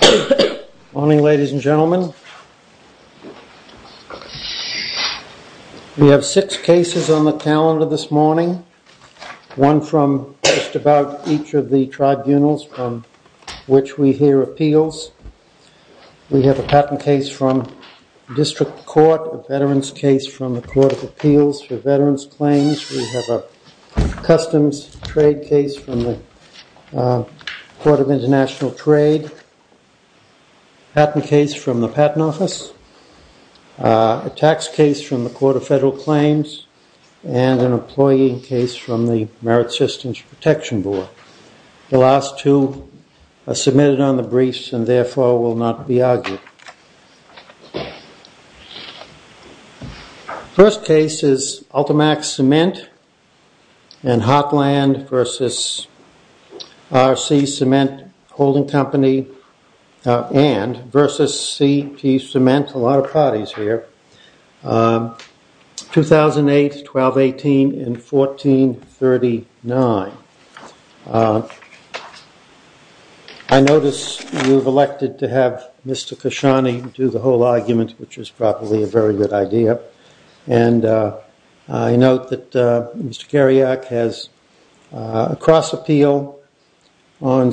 Good morning ladies and gentlemen. We have six cases on the calendar this morning. One from just about each of the tribunals from which we hear appeals. We have a patent case from district court, a veterans case from the court of appeals for veterans claims. We have a customs trade case from the court of international trade, a patent case from the patent office, a tax case from the court of federal claims, and an employee case from the merit systems protection board. The last two are submitted on the briefs and therefore will not be argued. First case is Ultimax Cement and Hotland v. R.C. Cement Holding Company and v. C.P. Cement, a lot of parties here, 2008-12-18 and 14-39. I notice you've elected to have Mr. Khashoggi do the whole argument, which is probably a very good idea. And I note that Mr. Kariak has a cross appeal. I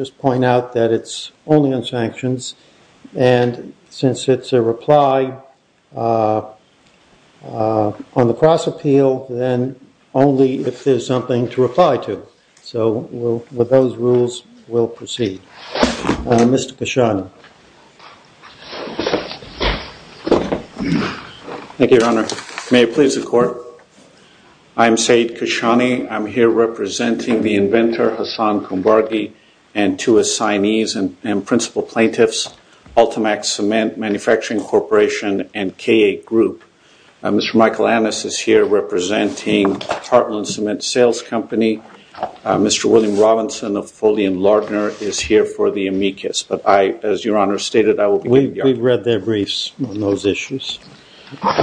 just point out that it's only on sanctions. And since it's a reply on the cross appeal, then only if there's something to reply to. So with those rules, we'll proceed. Mr. Khashoggi. Thank you, Your Honor. May it please the court. I'm Saeed Khashoggi. I'm here representing the inventor, Hassan Kumbargi, and two assignees and principal plaintiffs, Ultimax Cement Manufacturing Corporation and K.A. Group. Mr. Michael Annis is here representing Heartland Cement Sales Company. Mr. William Robinson of Foley and We've read their briefs on those issues.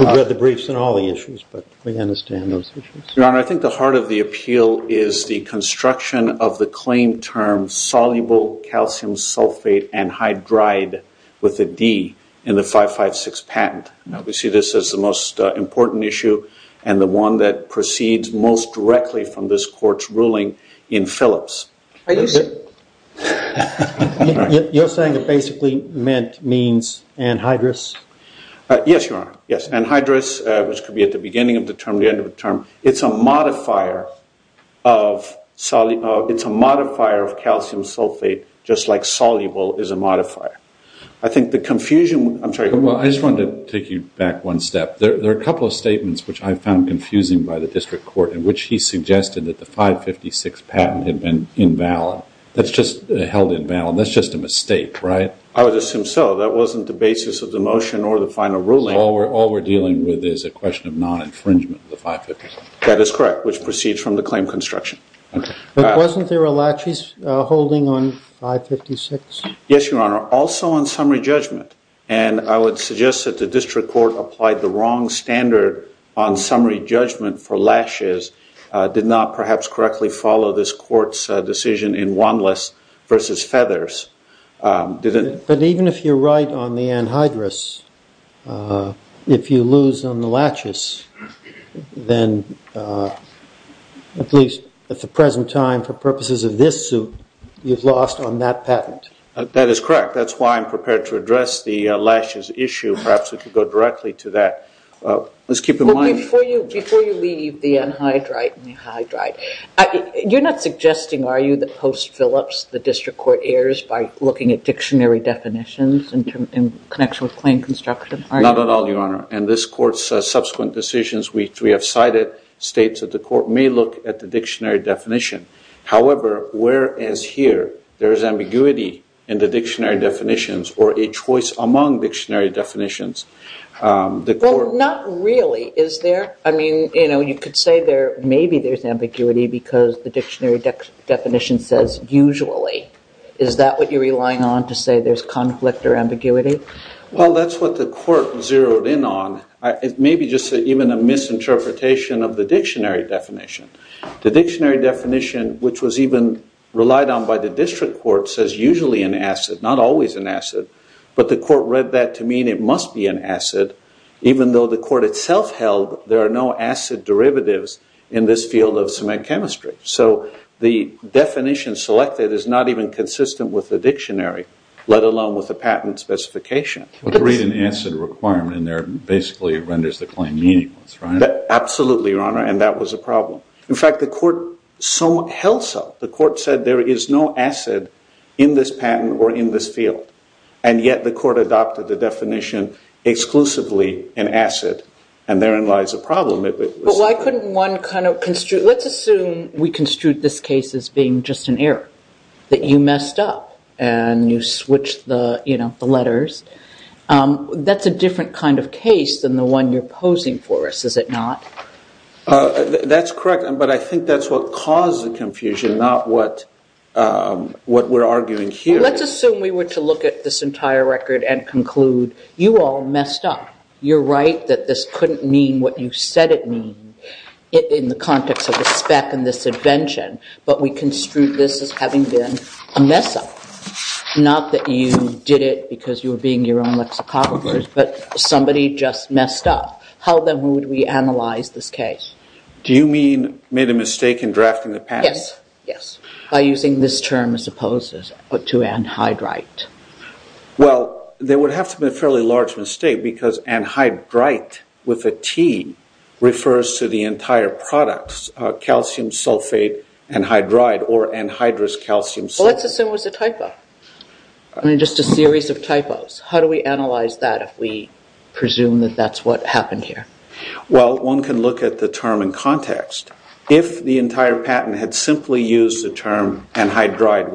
We've read the briefs on all the issues, but we understand those issues. Your Honor, I think the heart of the appeal is the construction of the claim term soluble calcium sulfate anhydride with a D in the 556 patent. We see this as the most important issue and the one that proceeds most directly from this ruling in Phillips. You're saying it basically means anhydrous? Yes, Your Honor. Yes, anhydrous, which could be at the beginning of the term, the end of the term. It's a modifier of calcium sulfate, just like soluble is a modifier. I just wanted to take you back one step. There are a couple of statements which I found confusing by the district court in which he suggested that the 556 patent had been invalid. That's just held invalid. That's just a mistake, right? I would assume so. That wasn't the basis of the motion or the final ruling. All we're dealing with is a question of non-infringement of the 556. That is correct, which proceeds from the claim construction. Wasn't there a laches holding on 556? Yes, Your Honor. Also on summary judgment. And I would suggest that the district court applied the wrong standard on summary judgment for laches, did not perhaps correctly follow this court's decision in Wanless versus Feathers. But even if you're right on the anhydrous, if you lose on the laches, then at least at the present time for purposes of this suit, you've lost on that patent. That is correct. That's why I'm prepared to address the laches issue. Perhaps we could go directly to that. Let's keep in mind. Before you leave the anhydrite and the hydride, you're not suggesting, are you, that post Phillips, the district court errs by looking at dictionary definitions in connection with claim construction? Not at all, Your Honor. And this court's subsequent decisions, which we have cited, states that the court may look at the dictionary definition. However, whereas here there is ambiguity in the dictionary definitions or a choice among dictionary definitions. Well, not really, is there? I mean, you know, you could say there maybe there's ambiguity because the dictionary definition says usually. Is that what you're relying on to say there's conflict or ambiguity? Well, that's what the court zeroed in on. Maybe just even a misinterpretation of the dictionary definition. The dictionary definition, which was even relied on by the district court, says usually an acid, not always an acid. But the court read that to mean it must be an acid, even though the court itself held there are no acid derivatives in this field of cement chemistry. So the definition selected is not even consistent with the dictionary, let alone with the patent specification. Well, to read an acid requirement in there basically renders the claim meaningless, right? Absolutely, Your Honor. And that was a problem. In fact, the court held so. The court said there is no acid in this patent or in this field. And yet the court adopted the definition exclusively in acid. And therein lies a problem. But why couldn't one kind of construe, let's assume we construe this case as being just an error, that you messed up and you switched the letters. That's a different kind of case than the one you're posing for us, is it not? That's correct. But I think that's what caused the confusion, not what what we're arguing here. Let's assume we were to look at this entire record and conclude you all messed up. You're right that this couldn't mean what you said it means in the context of the spec and this invention. But we construe this as having been a mess up. Not that you did it because you were being your own lexicographers, but somebody just messed up. How then would we analyze this case? Do you mean made a mistake in drafting the patent? Yes. By using this term as opposed to anhydrite. Well, there would have to be a fairly large mistake because anhydrite with a T refers to the entire product, calcium sulfate anhydride or anhydrous calcium sulfate. Let's assume it was a typo. Just a series of typos. How do we analyze that if we presume that that's what happened here? Well, one can look at the term in context. If the entire patent had simply used the term anhydride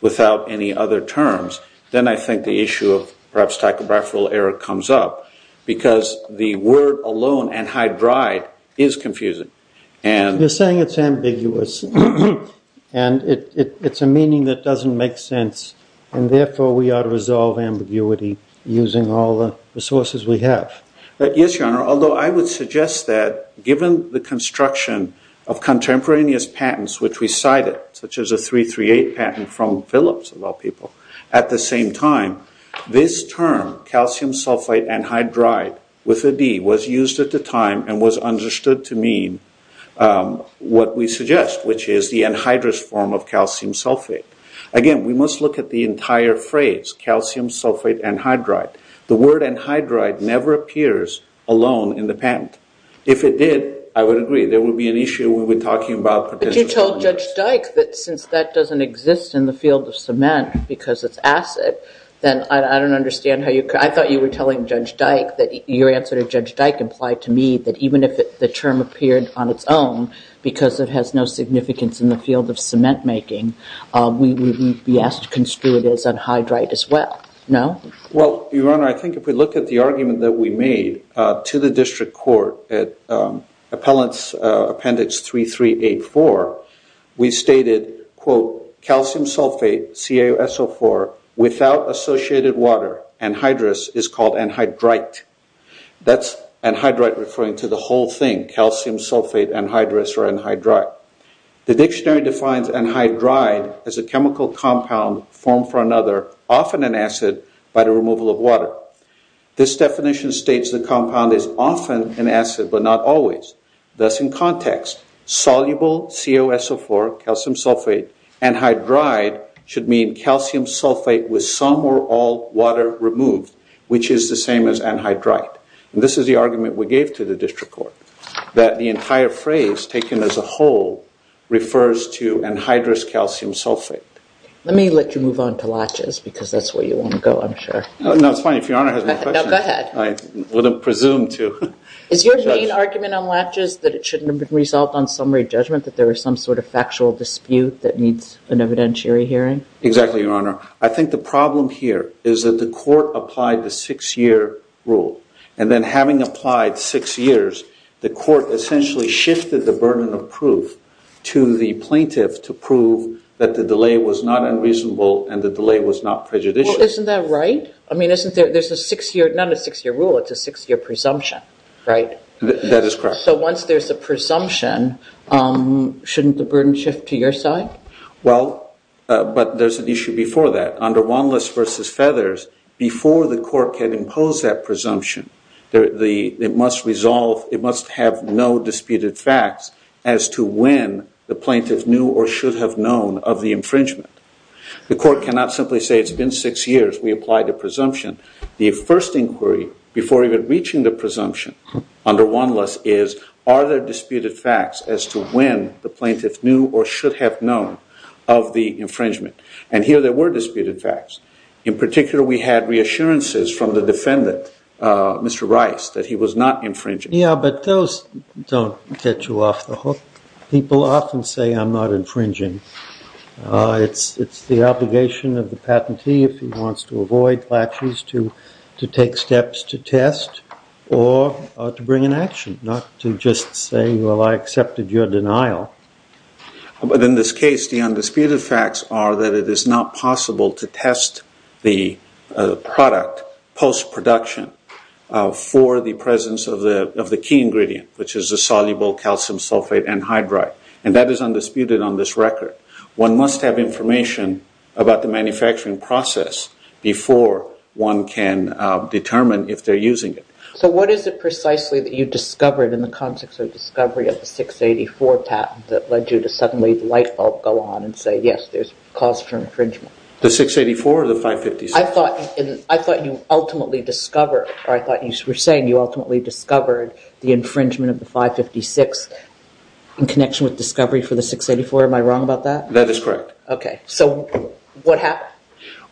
without any other terms, then I think the issue of perhaps typographical error comes up because the word alone, anhydride, is confusing. You're saying it's ambiguous and it's a meaning that doesn't make sense. And therefore, we ought to resolve ambiguity using all the resources we have. Yes, Your Honor. Although I would suggest that given the construction of contemporaneous patents, which we cited, such as a 338 patent from Phillips, of all people, at the same time, this term, calcium sulfate anhydride with a D, was used at the time and was understood to mean what we suggest, which is the anhydrous form of calcium sulfate. Again, we must look at the entire phrase, calcium sulfate anhydride. The word anhydride never appears alone in the patent. If it did, I would agree. There would be an issue we would be talking about. But you told Judge Dyke that since that doesn't exist in the field of cement because it's acid, then I don't understand how you could, I thought you were telling Judge Dyke, that your answer to Judge Dyke implied to me that even if the term appeared on its own, because it has no significance in the field of cement making, we would be asked to construe it as anhydride as well. No? Well, Your Honor, I think if we look at the argument that we made to the district court at Appellant's Appendix 3384, we stated, quote, calcium sulfate, CaSO4, without associated water, anhydrous, is called anhydrite. That's anhydrite referring to the whole thing, calcium sulfate anhydrous or anhydrite. The dictionary defines anhydrite as a chemical compound formed from another, often an acid, by the removal of water. This definition states the compound is often an acid but not always. Thus, in context, soluble CaSO4, calcium sulfate, anhydrite should mean calcium sulfate with some or all water removed, which is the same as anhydrite. This is the argument we gave to the district court, that the entire phrase taken as a whole refers to anhydrous calcium sulfate. Let me let you move on to latches because that's where you want to go, I'm sure. No, it's fine. If Your Honor has any questions. No, go ahead. I wouldn't presume to. Is your main argument on latches that it shouldn't have been resolved on summary judgment, that there was some sort of factual dispute that needs an evidentiary hearing? Exactly, Your Honor. I think the problem here is that the court applied the six-year rule, and then having applied six years, the court essentially shifted the burden of proof to the plaintiff to prove that the delay was not unreasonable and the delay was not prejudicial. Well, isn't that right? I mean, there's a six-year, not a six-year rule, it's a six-year presumption, right? That is correct. So once there's a presumption, shouldn't the burden shift to your side? Well, but there's an issue before that. Under Wanless v. Feathers, before the court can impose that presumption, it must have no disputed facts as to when the plaintiff knew or should have known of the infringement. The court cannot simply say it's been six years, we apply the presumption. The first inquiry before even reaching the presumption under Wanless is, are there disputed facts as to when the plaintiff knew or should have known of the infringement? And here there were disputed facts. In particular, we had reassurances from the defendant, Mr. Rice, that he was not infringing. Yeah, but those don't get you off the hook. People often say, I'm not infringing. It's the obligation of the patentee, if he wants to avoid clashes, to take steps to test or to bring an action, not to just say, well, I accepted your denial. But in this case, the undisputed facts are that it is not possible to test the product post-production for the presence of the key ingredient, which is the soluble calcium sulfate anhydride. And that is undisputed on this record. One must have information about the manufacturing process before one can determine if they're using it. So what is it precisely that you discovered in the context of discovery of the 684 patent that led you to suddenly let the light bulb go on and say, yes, there's cause for infringement? The 684 or the 556? I thought you were saying you ultimately discovered the infringement of the 556 in connection with discovery for the 684. Am I wrong about that? That is correct. Okay. So what happened?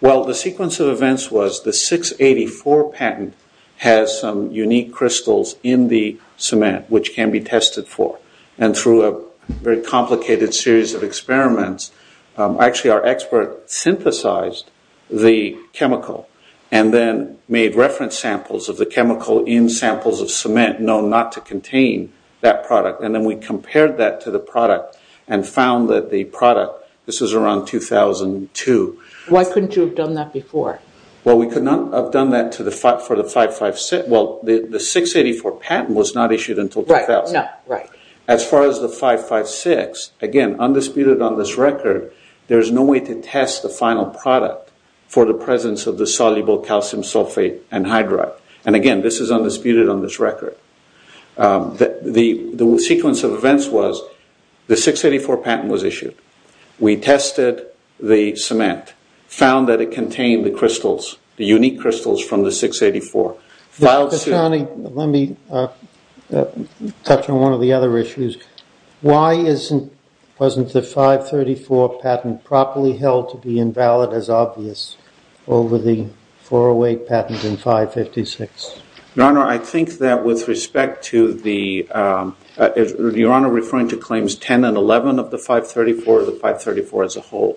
Well, the sequence of events was the 684 patent has some unique crystals in the cement, which can be tested for. And through a very complicated series of experiments, actually our expert synthesized the chemical and then made reference samples of the chemical in samples of cement known not to contain that product. And then we compared that to the product and found that the product, this was around 2002. Why couldn't you have done that before? Well, we could not have done that for the 556. Well, the 684 patent was not issued until 2000. Right. As far as the 556, again, undisputed on this record, there's no way to test the final product for the presence of the soluble calcium sulfate anhydride. And again, this is undisputed on this record. The sequence of events was the 684 patent was issued. We tested the cement, found that it contained the crystals, the unique crystals from the 684. Let me touch on one of the other issues. Why wasn't the 534 patent properly held to be invalid as obvious over the 408 patent and 556? Your Honor, I think that with respect to the- Your Honor referring to claims 10 and 11 of the 534, the 534 as a whole.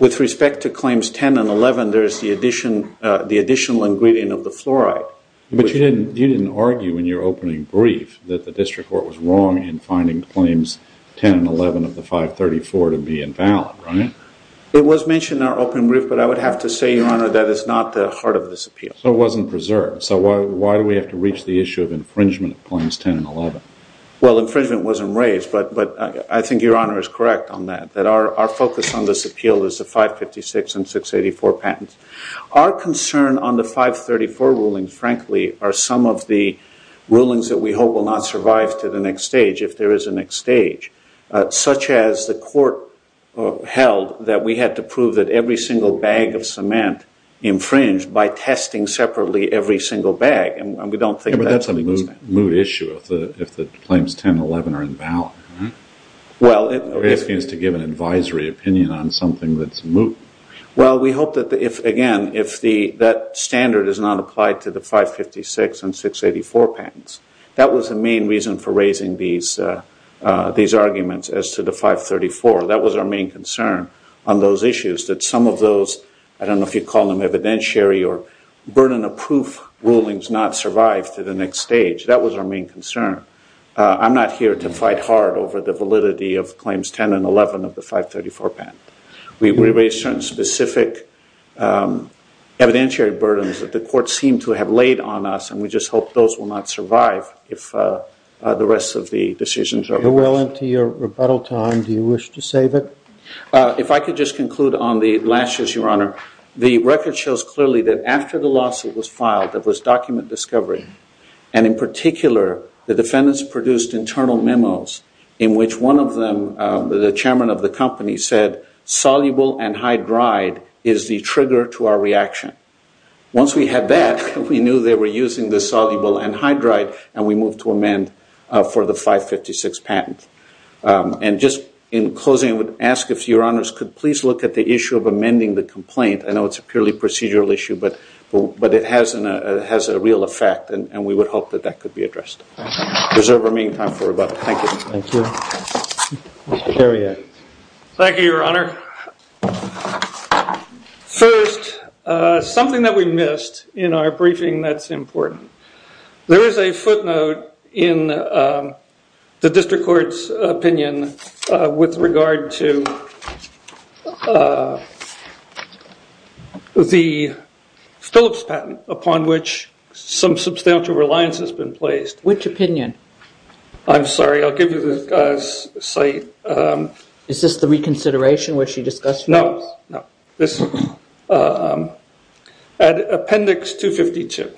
With respect to claims 10 and 11, there's the additional ingredient of the fluoride. But you didn't argue in your opening brief that the district court was wrong in finding claims 10 and 11 of the 534 to be invalid, right? It was mentioned in our opening brief, but I would have to say, Your Honor, that is not the heart of this appeal. So it wasn't preserved. So why do we have to reach the issue of infringement of claims 10 and 11? Well, infringement wasn't raised, but I think Your Honor is correct on that. Our focus on this appeal is the 556 and 684 patents. Our concern on the 534 ruling, frankly, are some of the rulings that we hope will not survive to the next stage, if there is a next stage. Such as the court held that we had to prove that every single bag of cement infringed by testing separately every single bag. And we don't think that's- But that's a moot issue if the claims 10 and 11 are invalid. You're asking us to give an advisory opinion on something that's moot. Well, we hope that, again, if that standard is not applied to the 556 and 684 patents. That was the main reason for raising these arguments as to the 534. That was our main concern on those issues. That some of those, I don't know if you'd call them evidentiary or burden of proof rulings, not survive to the next stage. That was our main concern. I'm not here to fight hard over the validity of claims 10 and 11 of the 534 patent. We raised certain specific evidentiary burdens that the court seemed to have laid on us. And we just hope those will not survive if the rest of the decisions are reversed. We're well into your rebuttal time. Do you wish to save it? If I could just conclude on the last issue, Your Honor. The record shows clearly that after the lawsuit was filed, there was document discovery. And in particular, the defendants produced internal memos in which one of them, the chairman of the company, said soluble anhydride is the trigger to our reaction. Once we had that, we knew they were using the soluble anhydride, and we moved to amend for the 556 patent. And just in closing, I would ask if Your Honors could please look at the issue of amending the complaint. I know it's a purely procedural issue, but it has a real effect. And we would hope that that could be addressed. There's a remaining time for rebuttal. Thank you. Thank you. Mr. Chariot. Thank you, Your Honor. First, something that we missed in our briefing that's important. There is a footnote in the district court's opinion with regard to the Phillips patent, upon which some substantial reliance has been placed. Which opinion? I'm sorry. I'll give you the site. Is this the reconsideration which you discussed? No. Appendix 252.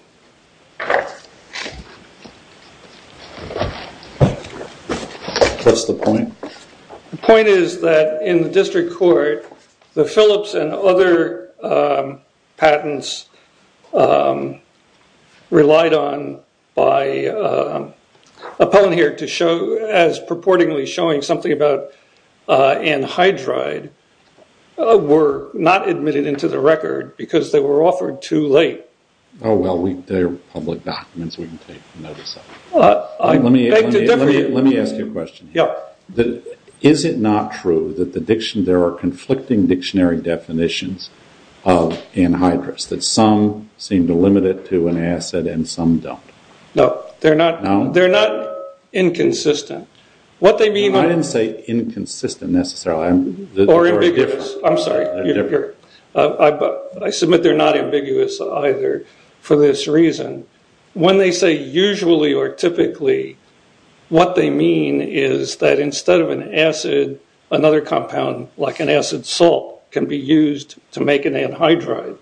What's the point? The point is that in the district court, the Phillips and other patents relied on by Appellant here to show, as purportedly showing something about anhydride, were not admitted into the record because they were offered too late. Oh, well, they're public documents we can take notice of. Let me ask you a question. Is it not true that there are conflicting dictionary definitions of anhydrides? That some seem to limit it to an acid and some don't? No. They're not inconsistent. I didn't say inconsistent necessarily. Or ambiguous. I'm sorry. I submit they're not ambiguous either for this reason. When they say usually or typically, what they mean is that instead of an acid, another compound like an acid salt can be used to make an anhydride.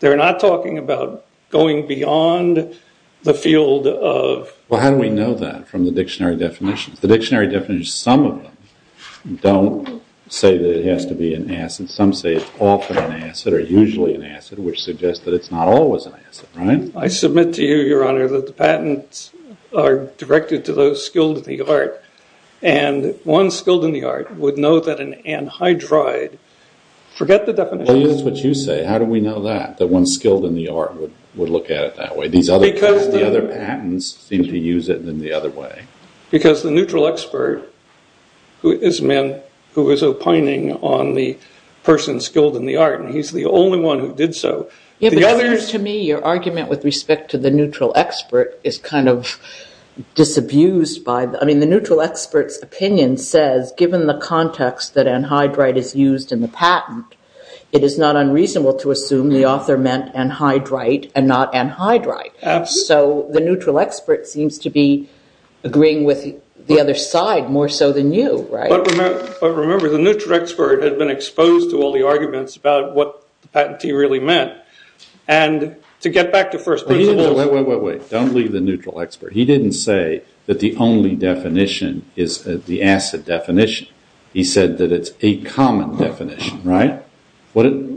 They're not talking about going beyond the field of... Well, how do we know that from the dictionary definitions? The dictionary definitions, some of them don't say that it has to be an acid. Some say it's often an acid or usually an acid, which suggests that it's not always an acid, right? I submit to you, Your Honor, that the patents are directed to those skilled in the art. And one skilled in the art would know that an anhydride, forget the definition. That is what you say. How do we know that, that one skilled in the art would look at it that way? Because the other patents seem to use it in the other way. Because the neutral expert is a man who is opining on the person skilled in the art, and he's the only one who did so. To me, your argument with respect to the neutral expert is kind of disabused by the... I mean, the neutral expert's opinion says, given the context that anhydride is used in the patent, it is not unreasonable to assume the author meant anhydrite and not anhydrite. Absolutely. So the neutral expert seems to be agreeing with the other side more so than you, right? But remember, the neutral expert had been exposed to all the arguments about what the patentee really meant. And to get back to first principles... Wait, wait, wait. Don't leave the neutral expert. He didn't say that the only definition is the acid definition. He said that it's a common definition, right? What's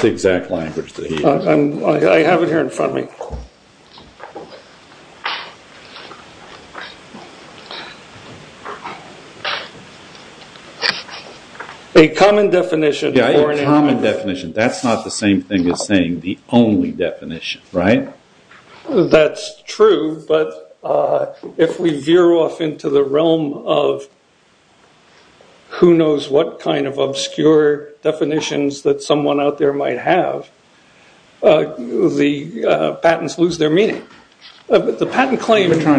the exact language that he used? I have it here in front of me. A common definition... Yeah, a common definition. That's not the same thing as saying the only definition, right? That's true. But if we veer off into the realm of who knows what kind of obscure definitions that someone out there might have, the patents lose their meaning. You're trying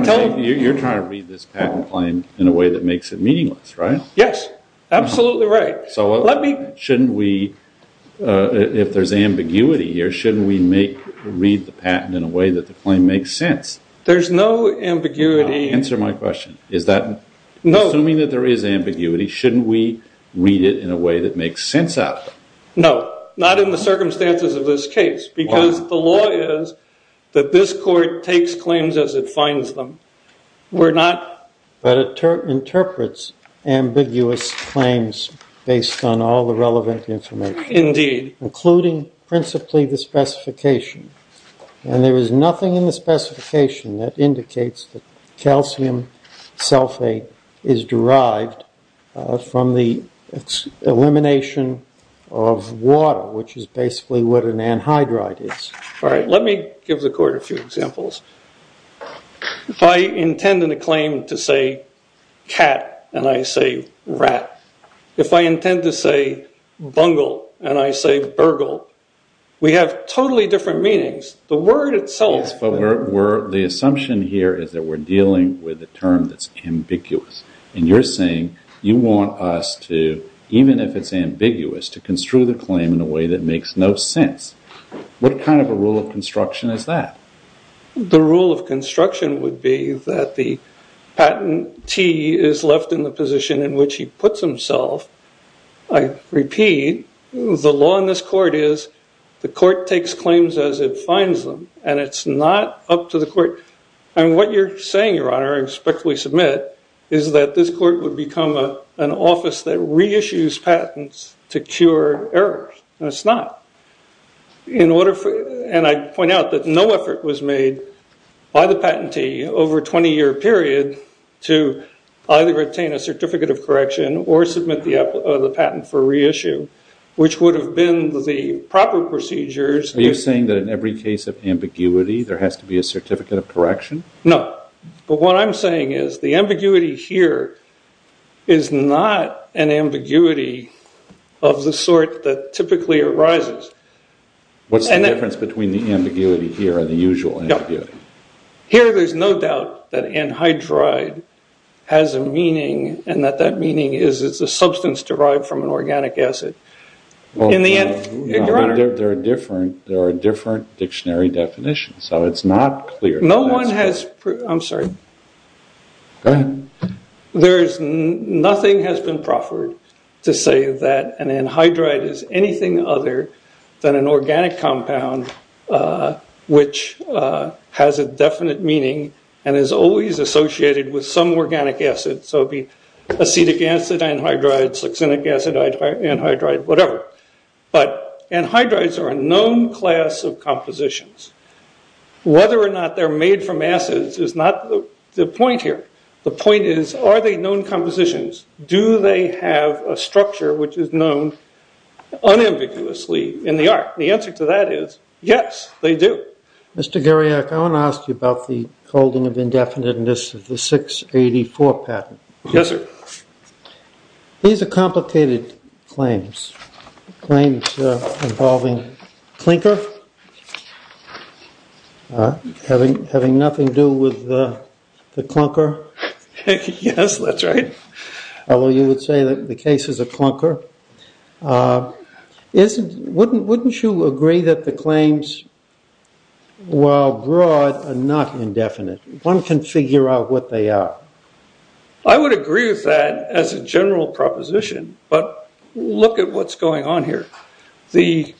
to read this patent claim in a way that makes it meaningless, right? Yes, absolutely right. So if there's ambiguity here, shouldn't we read the patent in a way that the claim makes sense? There's no ambiguity... Answer my question. Assuming that there is ambiguity, shouldn't we read it in a way that makes sense out of it? No, not in the circumstances of this case. Because the law is that this court takes claims as it finds them. We're not... But it interprets ambiguous claims based on all the relevant information. Indeed. Including principally the specification. And there is nothing in the specification that indicates that calcium sulfate is derived from the elimination of water, which is basically what an anhydride is. All right, let me give the court a few examples. If I intend in a claim to say cat and I say rat, if I intend to say bungle and I say burgle, we have totally different meanings. The word itself... Yes, but the assumption here is that we're dealing with a term that's ambiguous. And you're saying you want us to, even if it's ambiguous, to construe the claim in a way that makes no sense. What kind of a rule of construction is that? The rule of construction would be that the patentee is left in the position in which he puts himself. I repeat, the law in this court is the court takes claims as it finds them. And it's not up to the court... And what you're saying, Your Honor, I respectfully submit, is that this court would become an office that reissues patents to cure errors. And it's not. And I point out that no effort was made by the patentee over a 20-year period to either retain a certificate of correction or submit the patent for reissue, which would have been the proper procedures... There has to be a certificate of correction? No. But what I'm saying is the ambiguity here is not an ambiguity of the sort that typically arises. What's the difference between the ambiguity here and the usual ambiguity? Here, there's no doubt that anhydride has a meaning, and that that meaning is it's a substance derived from an organic acid. Your Honor... There are different dictionary definitions, so it's not clear. No one has... I'm sorry. Go ahead. Nothing has been proffered to say that an anhydride is anything other than an organic compound, which has a definite meaning and is always associated with some organic acid. So it would be acetic acid anhydride, succinic acid anhydride, whatever. But anhydrides are a known class of compositions. Whether or not they're made from acids is not the point here. The point is, are they known compositions? Do they have a structure which is known unambiguously in the art? The answer to that is, yes, they do. Mr. Garriack, I want to ask you about the holding of indefiniteness of the 684 patent. Yes, sir. These are complicated claims, claims involving clinker having nothing to do with the clunker. Yes, that's right. Although you would say that the case is a clunker. Wouldn't you agree that the claims, while broad, are not indefinite? One can figure out what they are. I would agree with that as a general proposition. But look at what's going on here. The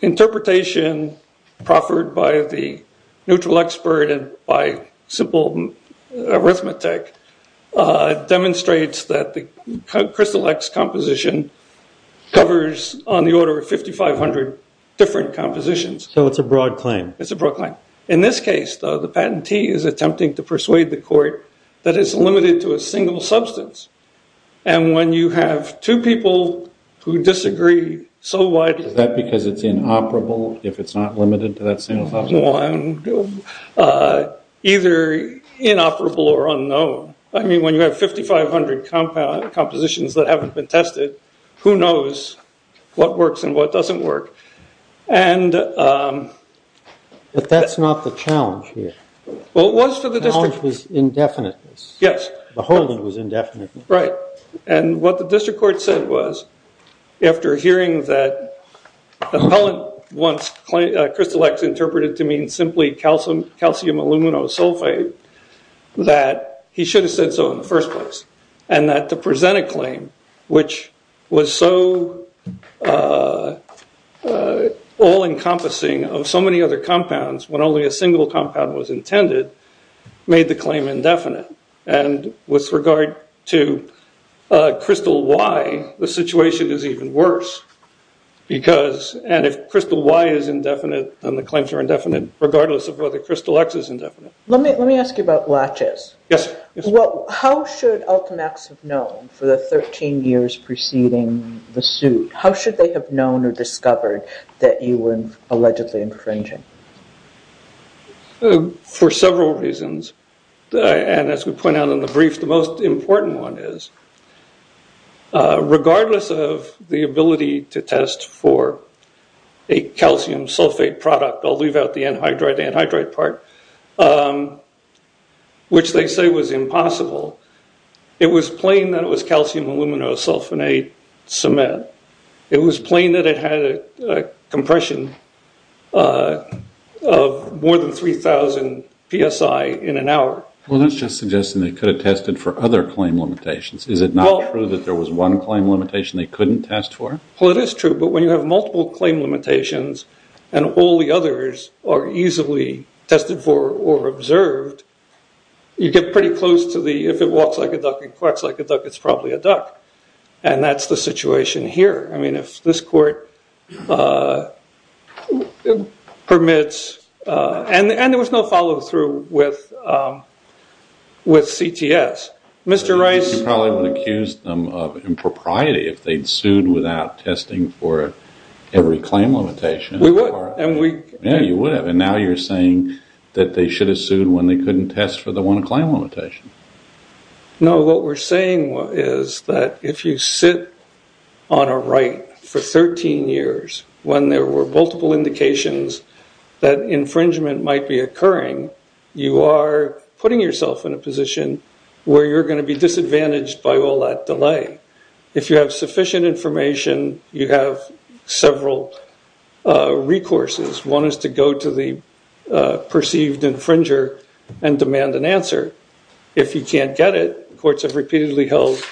interpretation proffered by the neutral expert and by simple arithmetic demonstrates that the Crystal X composition covers on the order of 5,500 different compositions. So it's a broad claim. It's a broad claim. In this case, though, the patentee is attempting to persuade the court that it's limited to a single substance. And when you have two people who disagree, so what? Is that because it's inoperable if it's not limited to that single substance? Either inoperable or unknown. I mean, when you have 5,500 compositions that haven't been tested, who knows what works and what doesn't work. But that's not the challenge here. Well, it was for the district. The challenge was indefiniteness. Yes. The whole thing was indefinite. Right. And what the district court said was, after hearing that the appellant wants Crystal X interpreted to mean simply calcium aluminosulfate, that he should have said so in the first place. And that to present a claim which was so all-encompassing of so many other compounds when only a single compound was intended made the claim indefinite. And with regard to Crystal Y, the situation is even worse. And if Crystal Y is indefinite, then the claims are indefinite, regardless of whether Crystal X is indefinite. Let me ask you about latches. Yes. How should Ultimax have known for the 13 years preceding the suit? How should they have known or discovered that you were allegedly infringing? For several reasons. And as we point out in the brief, the most important one is, regardless of the ability to test for a calcium sulfate product, I'll leave out the anhydride, the anhydride part, which they say was impossible, it was plain that it was calcium aluminosulfonate cement. It was plain that it had a compression of more than 3,000 psi in an hour. Well, that's just suggesting they could have tested for other claim limitations. Is it not true that there was one claim limitation they couldn't test for? Well, it is true. But when you have multiple claim limitations and all the others are easily tested for or observed, you get pretty close to the if it walks like a duck and quacks like a duck, it's probably a duck. And that's the situation here. I mean, if this court permits, and there was no follow through with CTS. You probably would have accused them of impropriety if they'd sued without testing for every claim limitation. We would. Yeah, you would have. And now you're saying that they should have sued when they couldn't test for the one claim limitation. No, what we're saying is that if you sit on a right for 13 years, when there were multiple indications that infringement might be occurring, you are putting yourself in a position where you're going to be disadvantaged by all that delay. If you have sufficient information, you have several recourses. One is to go to the perceived infringer and demand an answer. If you can't get it, courts have repeatedly held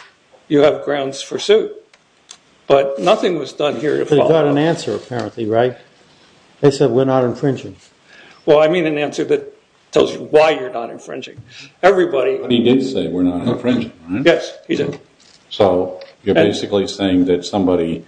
you have grounds for suit. But nothing was done here to follow up. They got an answer apparently, right? They said we're not infringing. Well, I mean an answer that tells you why you're not infringing. Everybody... He did say we're not infringing, right? Yes, he did. So you're basically saying that somebody,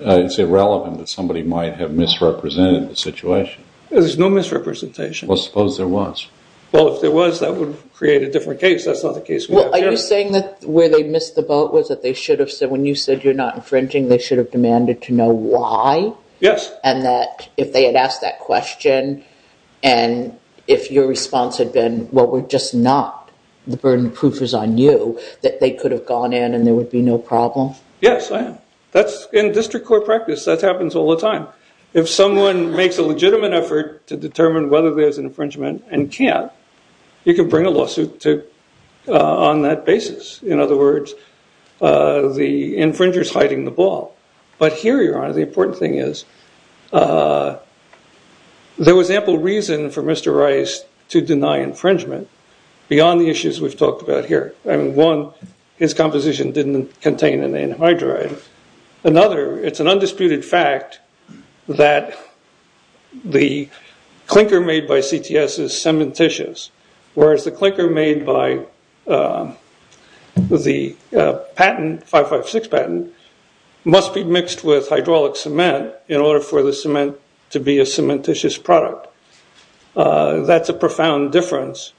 it's irrelevant that somebody might have misrepresented the situation. There's no misrepresentation. Well, suppose there was. Well, if there was, that would create a different case. That's not the case we have here. Well, are you saying that where they missed the boat was that they should have said, when you said you're not infringing, they should have demanded to know why? Yes. And that if they had asked that question and if your response had been, well, we're just not, the burden of proof is on you, that they could have gone in and there would be no problem? Yes, I am. That's in district court practice. That happens all the time. Now, if someone makes a legitimate effort to determine whether there's an infringement and can't, you can bring a lawsuit on that basis. In other words, the infringer's hiding the ball. But here, Your Honor, the important thing is, there was ample reason for Mr. Rice to deny infringement beyond the issues we've talked about here. I mean, one, his composition didn't contain an anhydride. Another, it's an undisputed fact that the clinker made by CTS is cementitious, whereas the clinker made by the patent, 556 patent, must be mixed with hydraulic cement in order for the cement to be a cementitious product. That's a profound difference,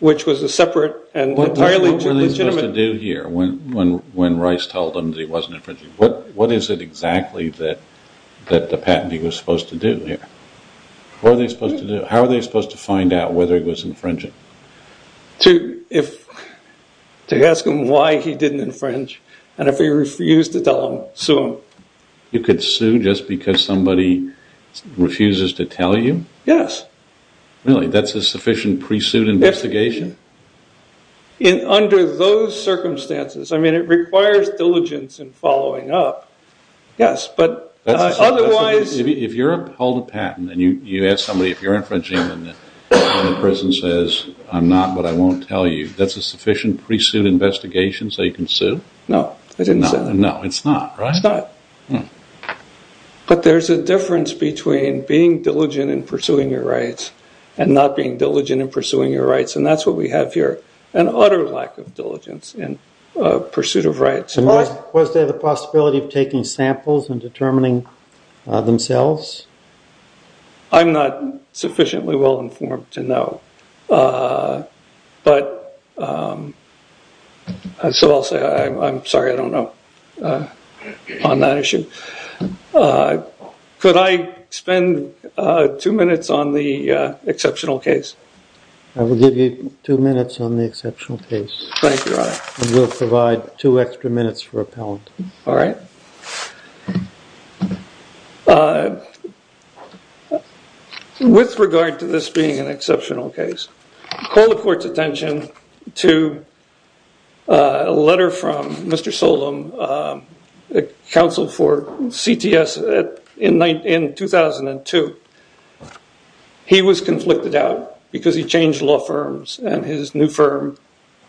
which was a separate and entirely legitimate. What were they supposed to do here when Rice told them that he wasn't infringing? What is it exactly that the patentee was supposed to do here? What were they supposed to do? How were they supposed to find out whether he was infringing? To ask him why he didn't infringe, and if he refused to tell him, sue him. You could sue just because somebody refuses to tell you? Yes. Really? That's a sufficient pre-suit investigation? Under those circumstances. I mean, it requires diligence and following up. Yes, but otherwise... If you're upheld a patent, and you ask somebody if you're infringing, and the person says, I'm not, but I won't tell you, that's a sufficient pre-suit investigation so you can sue? No, I didn't say that. No, it's not, right? It's not. But there's a difference between being diligent in pursuing your rights and not being diligent in pursuing your rights, and that's what we have here, an utter lack of diligence in pursuit of rights. Was there the possibility of taking samples and determining themselves? I'm not sufficiently well-informed to know, but... So I'll say I'm sorry I don't know on that issue. Could I spend two minutes on the exceptional case? I will give you two minutes on the exceptional case. Thank you, Your Honor. And we'll provide two extra minutes for appellant. All right. With regard to this being an exceptional case, call the court's attention to a letter from Mr. Solem, counsel for CTS in 2002. He was conflicted out because he changed law firms and his new firm,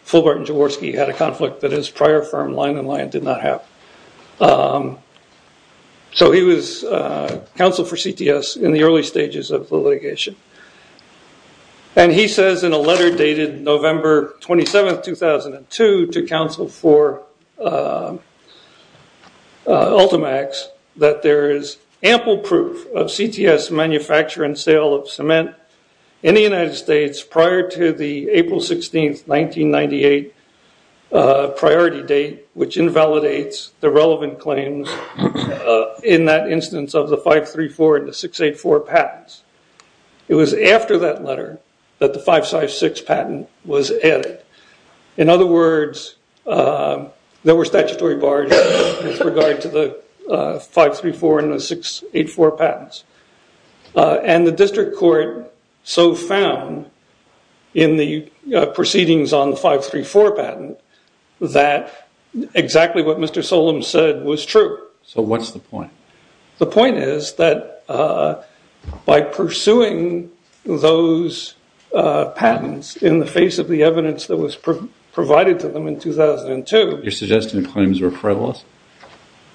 Fulbart & Jaworski, had a conflict that his prior firm, Lyon & Lyon, did not have. So he was counsel for CTS in the early stages of the litigation. And he says in a letter dated November 27, 2002, to counsel for Ultimax, that there is ample proof of CTS manufacture and sale of cement in the United States prior to the April 16, 1998 priority date, which invalidates the relevant claims in that instance of the 534 and the 684 patents. It was after that letter that the 556 patent was added. In other words, there were statutory bars with regard to the 534 and the 684 patents. And the district court so found in the proceedings on the 534 patent that exactly what Mr. Solem said was true. So what's the point? The point is that by pursuing those patents in the face of the evidence that was provided to them in 2002. You're suggesting the claims were frivolous?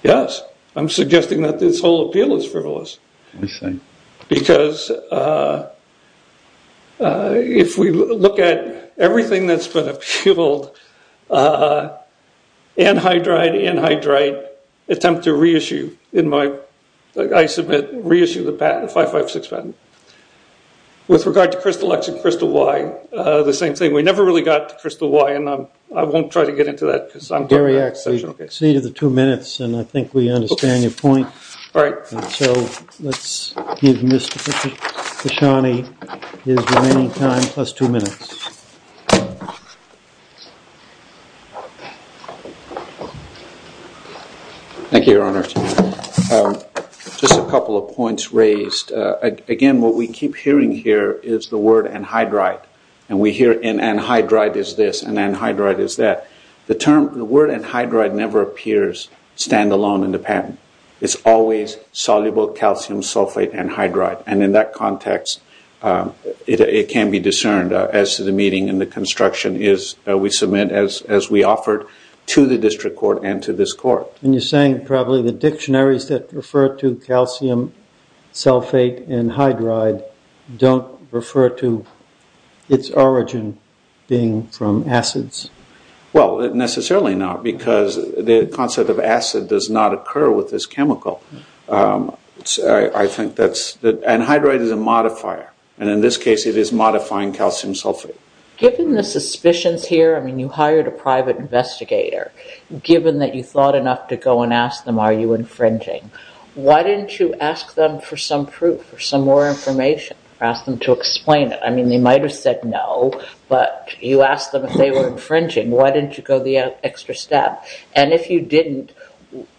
Yes. I'm suggesting that this whole appeal is frivolous. I see. Because if we look at everything that's been appealed, anhydride, anhydride, attempt to reissue in my, I submit, reissue the patent, the 556 patent. With regard to Crystal X and Crystal Y, the same thing. We never really got to Crystal Y, and I won't try to get into that. Gary, we've exceeded the two minutes, and I think we understand your point. All right. So let's give Mr. Pashani his remaining time plus two minutes. Thank you, Your Honor. Just a couple of points raised. Again, what we keep hearing here is the word anhydride, and we hear an anhydride is this, an anhydride is that. The word anhydride never appears standalone in the patent. It's always soluble calcium sulfate anhydride, and in that context it can be discerned as to the meeting and the construction that we submit as we offered to the district court and to this court. And you're saying probably the dictionaries that refer to calcium sulfate and anhydride don't refer to its origin being from acids. Well, necessarily not because the concept of acid does not occur with this chemical. I think that anhydride is a modifier, and in this case it is modifying calcium sulfate. Given the suspicions here, I mean you hired a private investigator, given that you thought enough to go and ask them are you infringing, why didn't you ask them for some proof or some more information or ask them to explain it? I mean they might have said no, but you asked them if they were infringing. Why didn't you go the extra step? And if you didn't,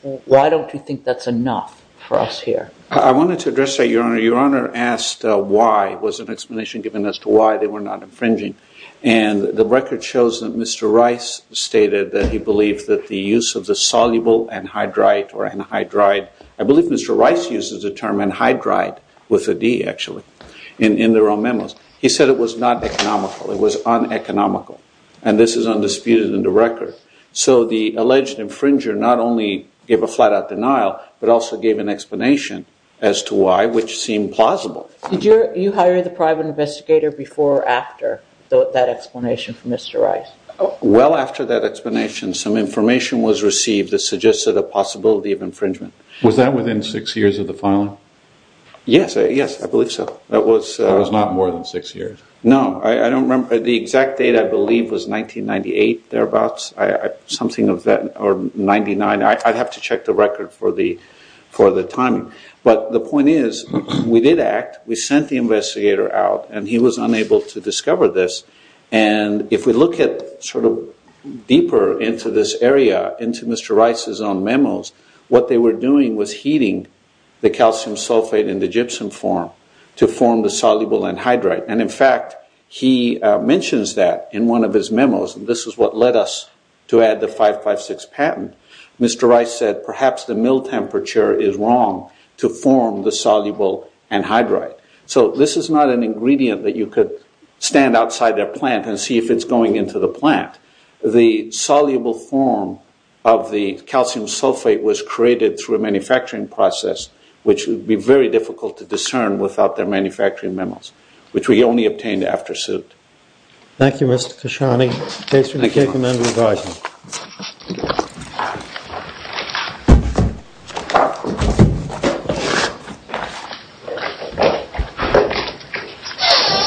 why don't you think that's enough for us here? I wanted to address that, Your Honor. Your Honor asked why, was an explanation given as to why they were not infringing, and the record shows that Mr. Rice stated that he believed that the use of the soluble anhydride I believe Mr. Rice uses the term anhydride with a D, actually, in their own memos. He said it was not economical. It was uneconomical, and this is undisputed in the record. So the alleged infringer not only gave a flat-out denial, but also gave an explanation as to why, which seemed plausible. Did you hire the private investigator before or after that explanation from Mr. Rice? Well, after that explanation, some information was received that suggested a possibility of infringement. Was that within six years of the filing? Yes, yes, I believe so. That was not more than six years. No, I don't remember. The exact date I believe was 1998, thereabouts, something of that, or 99. I'd have to check the record for the timing. But the point is we did act. We sent the investigator out, and he was unable to discover this. And if we look at sort of deeper into this area, into Mr. Rice's own memos, what they were doing was heating the calcium sulfate in the gypsum form to form the soluble anhydride. And, in fact, he mentions that in one of his memos, and this is what led us to add the 556 patent. Mr. Rice said perhaps the mill temperature is wrong to form the soluble anhydride. So this is not an ingredient that you could stand outside their plant and see if it's going into the plant. The soluble form of the calcium sulfate was created through a manufacturing process, which would be very difficult to discern without their manufacturing memos, which we only obtained after suit. Thank you, Mr. Khashoggi. Thank you, Mr. Khashoggi.